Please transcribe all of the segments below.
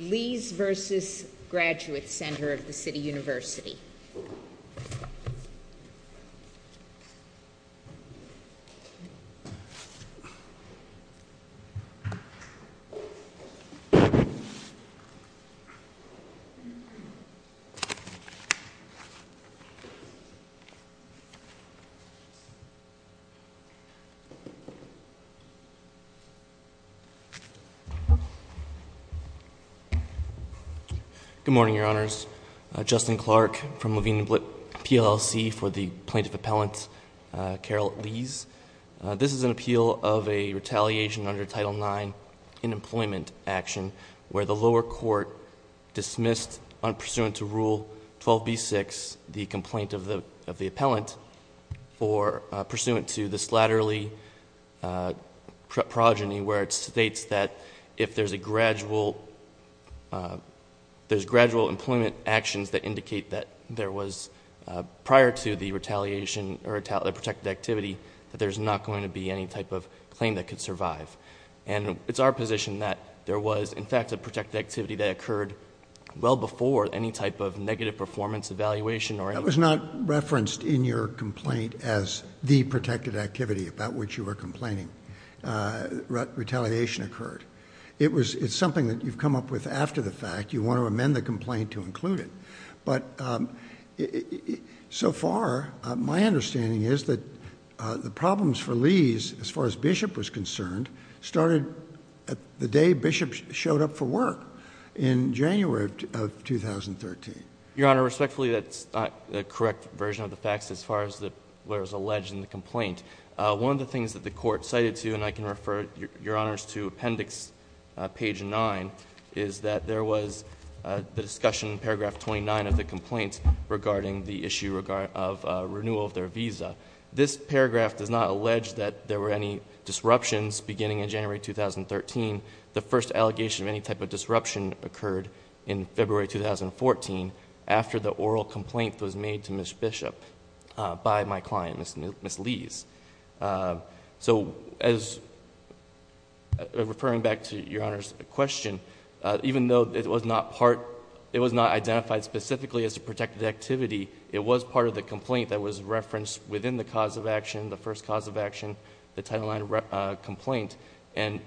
Lees v. Graduate Center of the City University. Good morning, Your Honors. Justin Clark from Levine & Blitt PLLC for the Plaintiff Appellant, Carol Lees. This is an appeal of a retaliation under Title IX in employment action, where the lower court dismissed, unpursuant to Rule 12b-6, the complaint of the appellant, or pursuant to the slatterly progeny, where it states that if there's gradual employment actions that indicate that there was, prior to the retaliation or the protected activity, that there's not going to be any type of claim that could survive. And it's our position that there was, in fact, a protected activity that occurred well before any type of negative performance evaluation or anything. That was not referenced in your complaint as the protected activity about which you were complaining. Retaliation occurred. It's something that you've come up with after the fact. You want to amend the complaint to include it. But so far, my understanding is that the problems for Lees, as far as Bishop was concerned, started the day Bishop showed up for work in January of 2013. Your Honor, respectfully, that's not the correct version of the facts as far as what was alleged in the complaint. One of the things that the court cited to, and I can refer your Honors to Appendix page 9, is that there was the discussion in paragraph 29 of the complaint regarding the issue of renewal of their visa. This paragraph does not allege that there were any disruptions beginning in January 2013. The first allegation of any type of disruption occurred in February 2014 after the oral complaint was made to Ms. Bishop by my client, Ms. Lees. Referring back to your Honor's question, even though it was not identified specifically as a protected activity, it was part of the complaint that was referenced within the cause of action, the first cause of action, the Title IX complaint. And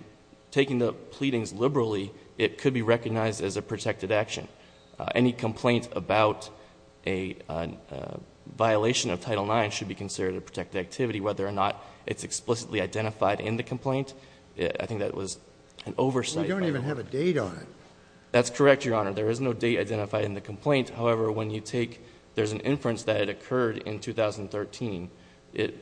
taking the pleadings liberally, it could be recognized as a protected action. Any complaint about a violation of Title IX should be considered a protected activity. Whether or not it's explicitly identified in the complaint, I think that was an oversight. We don't even have a date on it. That's correct, your Honor. There is no date identified in the complaint. However, when you take, there's an inference that it occurred in 2013. The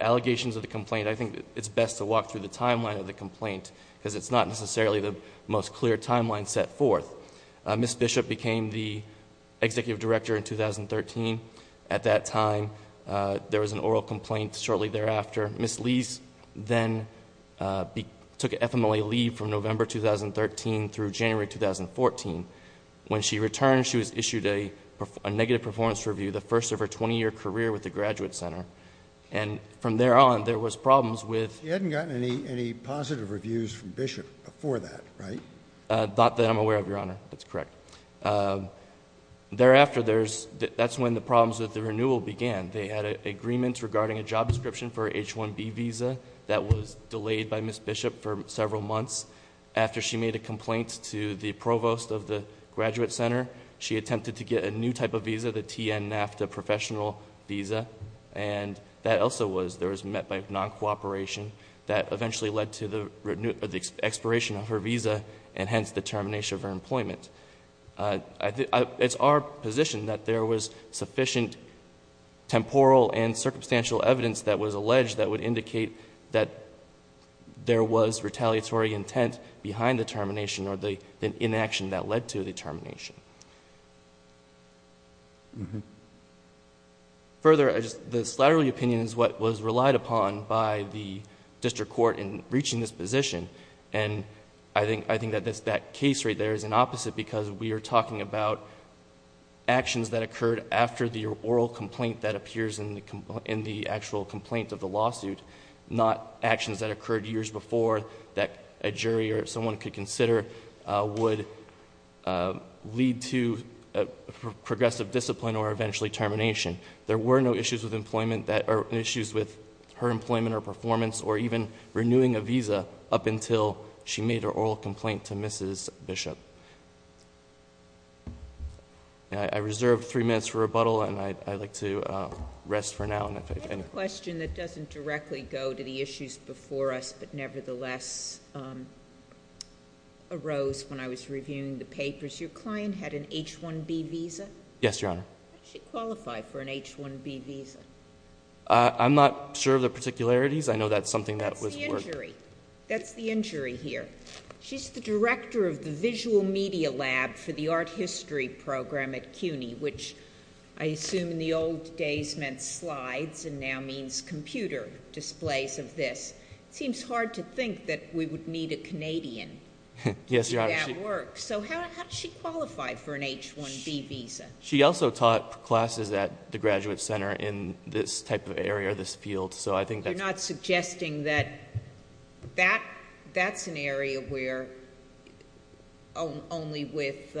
allegations of the complaint, I think it's best to walk through the timeline of the complaint because it's not necessarily the most clear timeline set forth. Ms. Bishop became the Executive Director in 2013. At that time, there was an oral complaint shortly thereafter. Ms. Lees then took FMLA leave from November 2013 through January 2014. When she returned, she was issued a negative performance review, the first of her 20-year career with the Graduate Center. And from there on, there was problems with— You hadn't gotten any positive reviews from Bishop before that, right? Not that I'm aware of, your Honor. That's correct. Thereafter, that's when the problems with the renewal began. They had an agreement regarding a job description for an H-1B visa that was delayed by Ms. Bishop for several months. After she made a complaint to the provost of the Graduate Center, she attempted to get a new type of visa, the TN-NAFTA professional visa. And that also was—there was met by non-cooperation that eventually led to the expiration of her visa and hence the termination of her employment. It's our position that there was sufficient temporal and circumstantial evidence that was alleged that would indicate that there was retaliatory intent behind the termination or the inaction that led to the termination. Further, the slattery opinion is what was relied upon by the district court in reaching this position. And I think that that case rate there is an opposite because we are talking about actions that occurred after the oral complaint that appears in the actual complaint of the lawsuit, not actions that occurred years before that a jury or someone could consider would lead to progressive discipline or eventually termination. There were no issues with employment that—or issues with her employment or performance or even renewing a visa up until she made her oral complaint to Mrs. Bishop. I reserve three minutes for rebuttal and I'd like to rest for now. I have a question that doesn't directly go to the issues before us but nevertheless arose when I was reviewing the papers. Your client had an H-1B visa? Yes, Your Honor. How did she qualify for an H-1B visa? I'm not sure of the particularities. I know that's something that was— That's the injury. That's the injury here. She's the director of the visual media lab for the art history program at CUNY, which I assume in the old days meant slides and now means computer displays of this. It seems hard to think that we would need a Canadian to do that work. Yes, Your Honor. So how did she qualify for an H-1B visa? She also taught classes at the Graduate Center in this type of area or this field. I'm not suggesting that that's an area where only with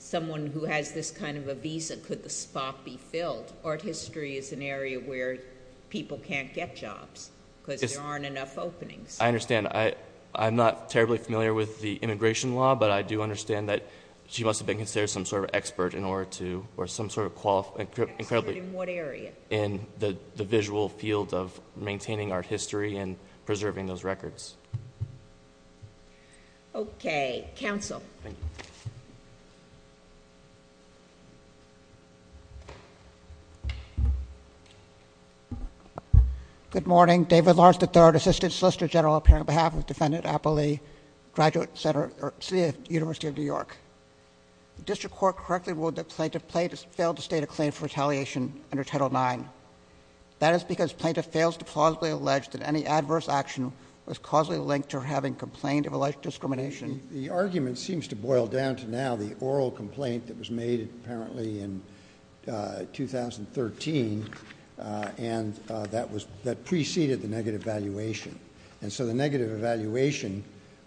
someone who has this kind of a visa could the spot be filled. Art history is an area where people can't get jobs because there aren't enough openings. I understand. I'm not terribly familiar with the immigration law, but I do understand that she must have been considered some sort of expert in order to—or some sort of— Expert in what area? In the visual field of maintaining art history and preserving those records. Okay. Counsel. Thank you. Good morning. David Lawrence III, Assistant Solicitor General, appearing on behalf of Defendant Appley, Graduate Center—City University of New York. The district court correctly ruled that plaintiff failed to state a claim for retaliation under Title IX. That is because plaintiff fails to plausibly allege that any adverse action was causally linked to her having complained of alleged discrimination. The argument seems to boil down to now the oral complaint that was made apparently in 2013 and that preceded the negative evaluation. And so the negative evaluation,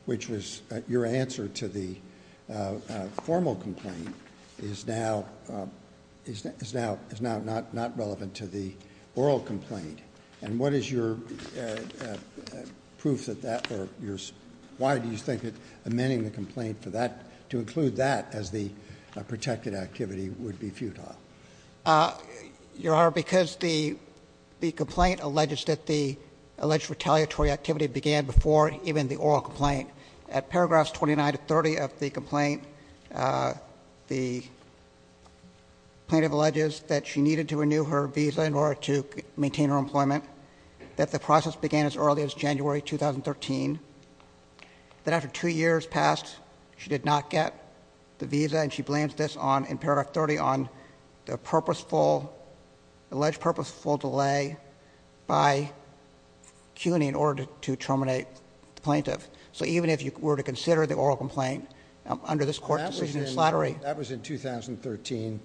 which was your answer to the formal complaint, is now not relevant to the oral complaint. And what is your proof that that—or why do you think that amending the complaint to include that as the protected activity would be futile? Your Honor, because the complaint alleges that the alleged retaliatory activity began before even the oral complaint. At paragraphs 29 to 30 of the complaint, the plaintiff alleges that she needed to renew her visa in order to maintain her employment, that the process began as early as January 2013, that after two years passed, she did not get the visa, and she blames this on, in paragraph 30, on the purposeful—alleged purposeful delay by CUNY in order to terminate the plaintiff. So even if you were to consider the oral complaint under this court decision in slattery— That was in 2013.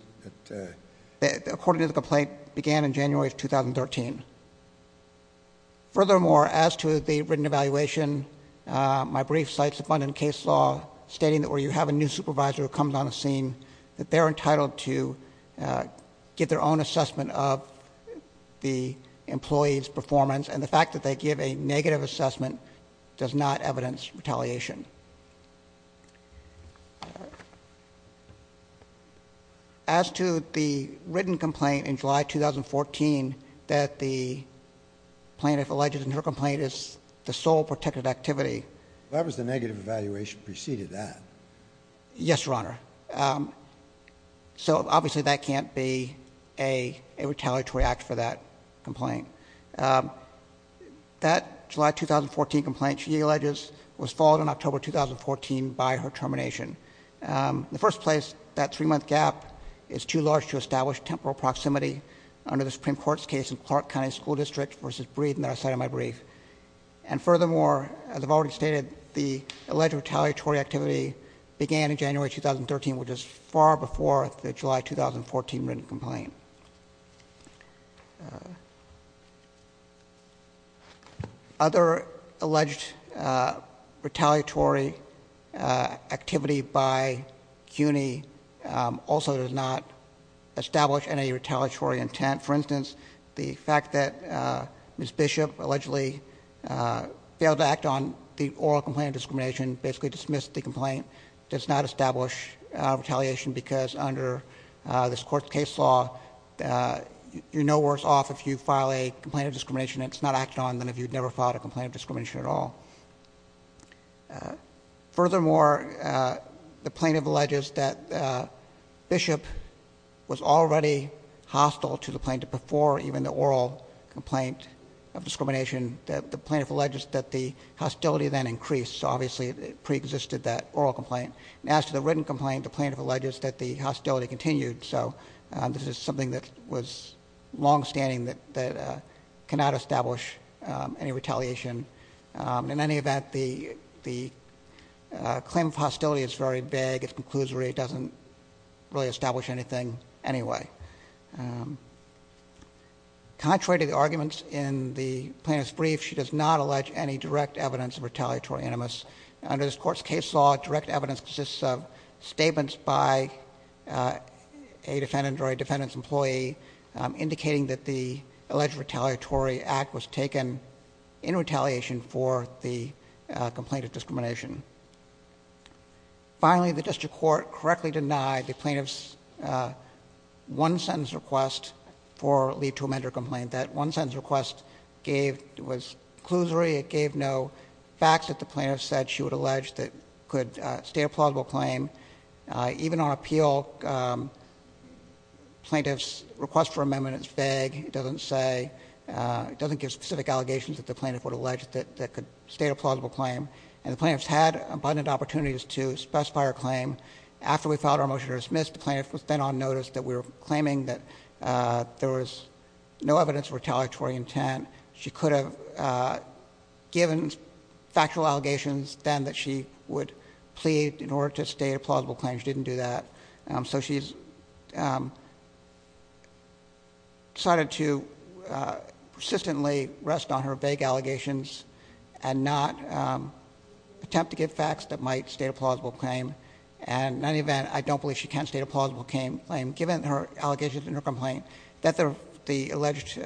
According to the complaint, it began in January of 2013. Furthermore, as to the written evaluation, my brief cites abundant case law stating that where you have a new supervisor who comes on the scene, that they're entitled to give their own assessment of the employee's performance, and the fact that they give a negative assessment does not evidence retaliation. As to the written complaint in July 2014, that the plaintiff alleges in her complaint is the sole protected activity— That was the negative evaluation preceded that. Yes, Your Honor. So obviously that can't be a retaliatory act for that complaint. That July 2014 complaint she alleges was followed in October 2014 by her termination. In the first place, that three-month gap is too large to establish temporal proximity under the Supreme Court's case in Clark County School District v. Breeden that I cited in my brief. And furthermore, as I've already stated, the alleged retaliatory activity began in January 2013, which is far before the July 2014 written complaint. Other alleged retaliatory activity by CUNY also does not establish any retaliatory intent. For instance, the fact that Ms. Bishop allegedly failed to act on the oral complaint of discrimination, basically dismissed the complaint, does not establish retaliation, because under this Court's case law, you're no worse off if you file a complaint of discrimination that's not acted on than if you'd never filed a complaint of discrimination at all. Furthermore, the plaintiff alleges that Bishop was already hostile to the plaintiff before even the oral complaint of discrimination. The plaintiff alleges that the hostility then increased. So obviously it preexisted, that oral complaint. As to the written complaint, the plaintiff alleges that the hostility continued. So this is something that was longstanding that cannot establish any retaliation. In any event, the claim of hostility is very vague. It's conclusory. It doesn't really establish anything anyway. Contrary to the arguments in the plaintiff's brief, she does not allege any direct evidence of retaliatory animus. Under this Court's case law, direct evidence consists of statements by a defendant or a defendant's employee indicating that the alleged retaliatory act was taken in retaliation for the complaint of discrimination. Finally, the District Court correctly denied the plaintiff's one-sentence request for leave to amend her complaint. That one-sentence request was conclusory. It gave no facts that the plaintiff said she would allege that could stay a plausible claim. Even on appeal, plaintiff's request for amendment is vague. It doesn't say, it doesn't give specific allegations that the plaintiff would allege that could stay a plausible claim. And the plaintiff's had abundant opportunities to specify her claim. After we filed our motion to dismiss, the plaintiff was then on notice that we were claiming that there was no evidence of retaliatory intent. She could have given factual allegations then that she would plead in order to stay a plausible claim. She didn't do that. So she's decided to persistently rest on her vague allegations and not attempt to give facts that might stay a plausible claim. And in any event, I don't believe she can stay a plausible claim. Given her allegations in her complaint, that the alleged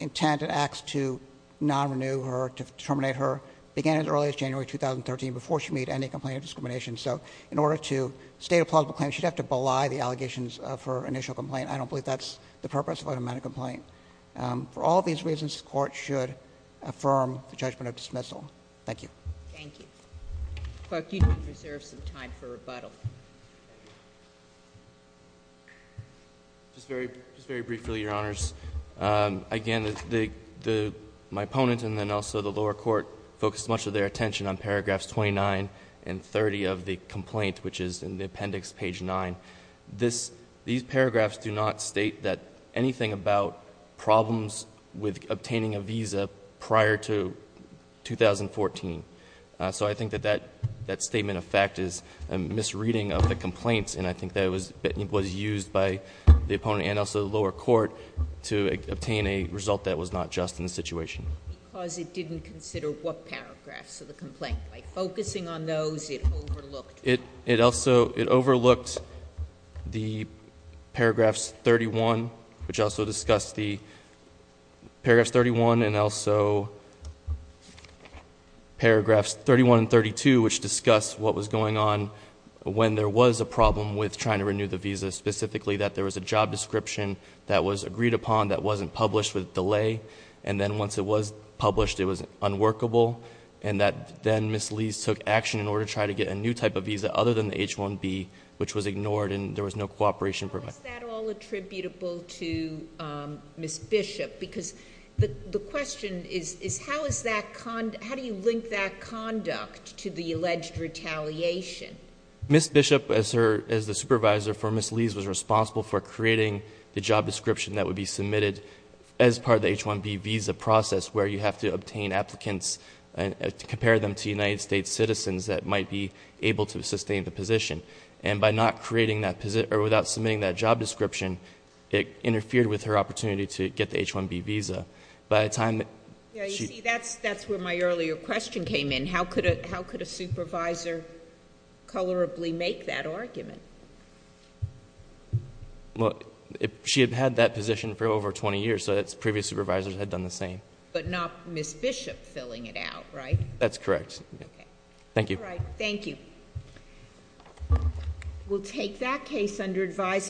intent and acts to non-renew her, to terminate her, began as early as January 2013 before she made any complaint of discrimination. So in order to stay a plausible claim, she'd have to belie the allegations of her initial complaint. I don't believe that's the purpose of an amended complaint. For all of these reasons, the Court should affirm the judgment of dismissal. Thank you. Thank you. Clerk, you do reserve some time for rebuttal. Just very briefly, Your Honors. Again, my opponent and then also the lower court focused much of their attention on paragraphs 29 and 30 of the complaint, which is in the appendix, page 9. These paragraphs do not state anything about problems with obtaining a visa prior to 2014. So I think that that statement of fact is a misreading of the complaints. And I think that it was used by the opponent and also the lower court to obtain a result that was not just in the situation. Because it didn't consider what paragraphs of the complaint. By focusing on those, it overlooked. It overlooked the paragraphs 31, which also discuss the paragraphs 31 and also paragraphs 31 and 32, which discuss what was going on when there was a problem with trying to renew the visa. Specifically that there was a job description that was agreed upon that wasn't published with delay. And then once it was published, it was unworkable. And that then Ms. Lees took action in order to try to get a new type of visa other than the H-1B, which was ignored and there was no cooperation provided. How is that all attributable to Ms. Bishop? Because the question is, how do you link that conduct to the alleged retaliation? Ms. Bishop, as the supervisor for Ms. Lees, was responsible for creating the job description that would be submitted as part of the H-1B visa process. Where you have to obtain applicants and compare them to United States citizens that might be able to sustain the position. And by not creating that position, or without submitting that job description, it interfered with her opportunity to get the H-1B visa. By the time that she- Yeah, you see, that's where my earlier question came in. How could a supervisor colorably make that argument? Well, she had had that position for over 20 years. Previous supervisors had done the same. But not Ms. Bishop filling it out, right? That's correct. Okay. Thank you. All right, thank you. We'll take that case under advisory.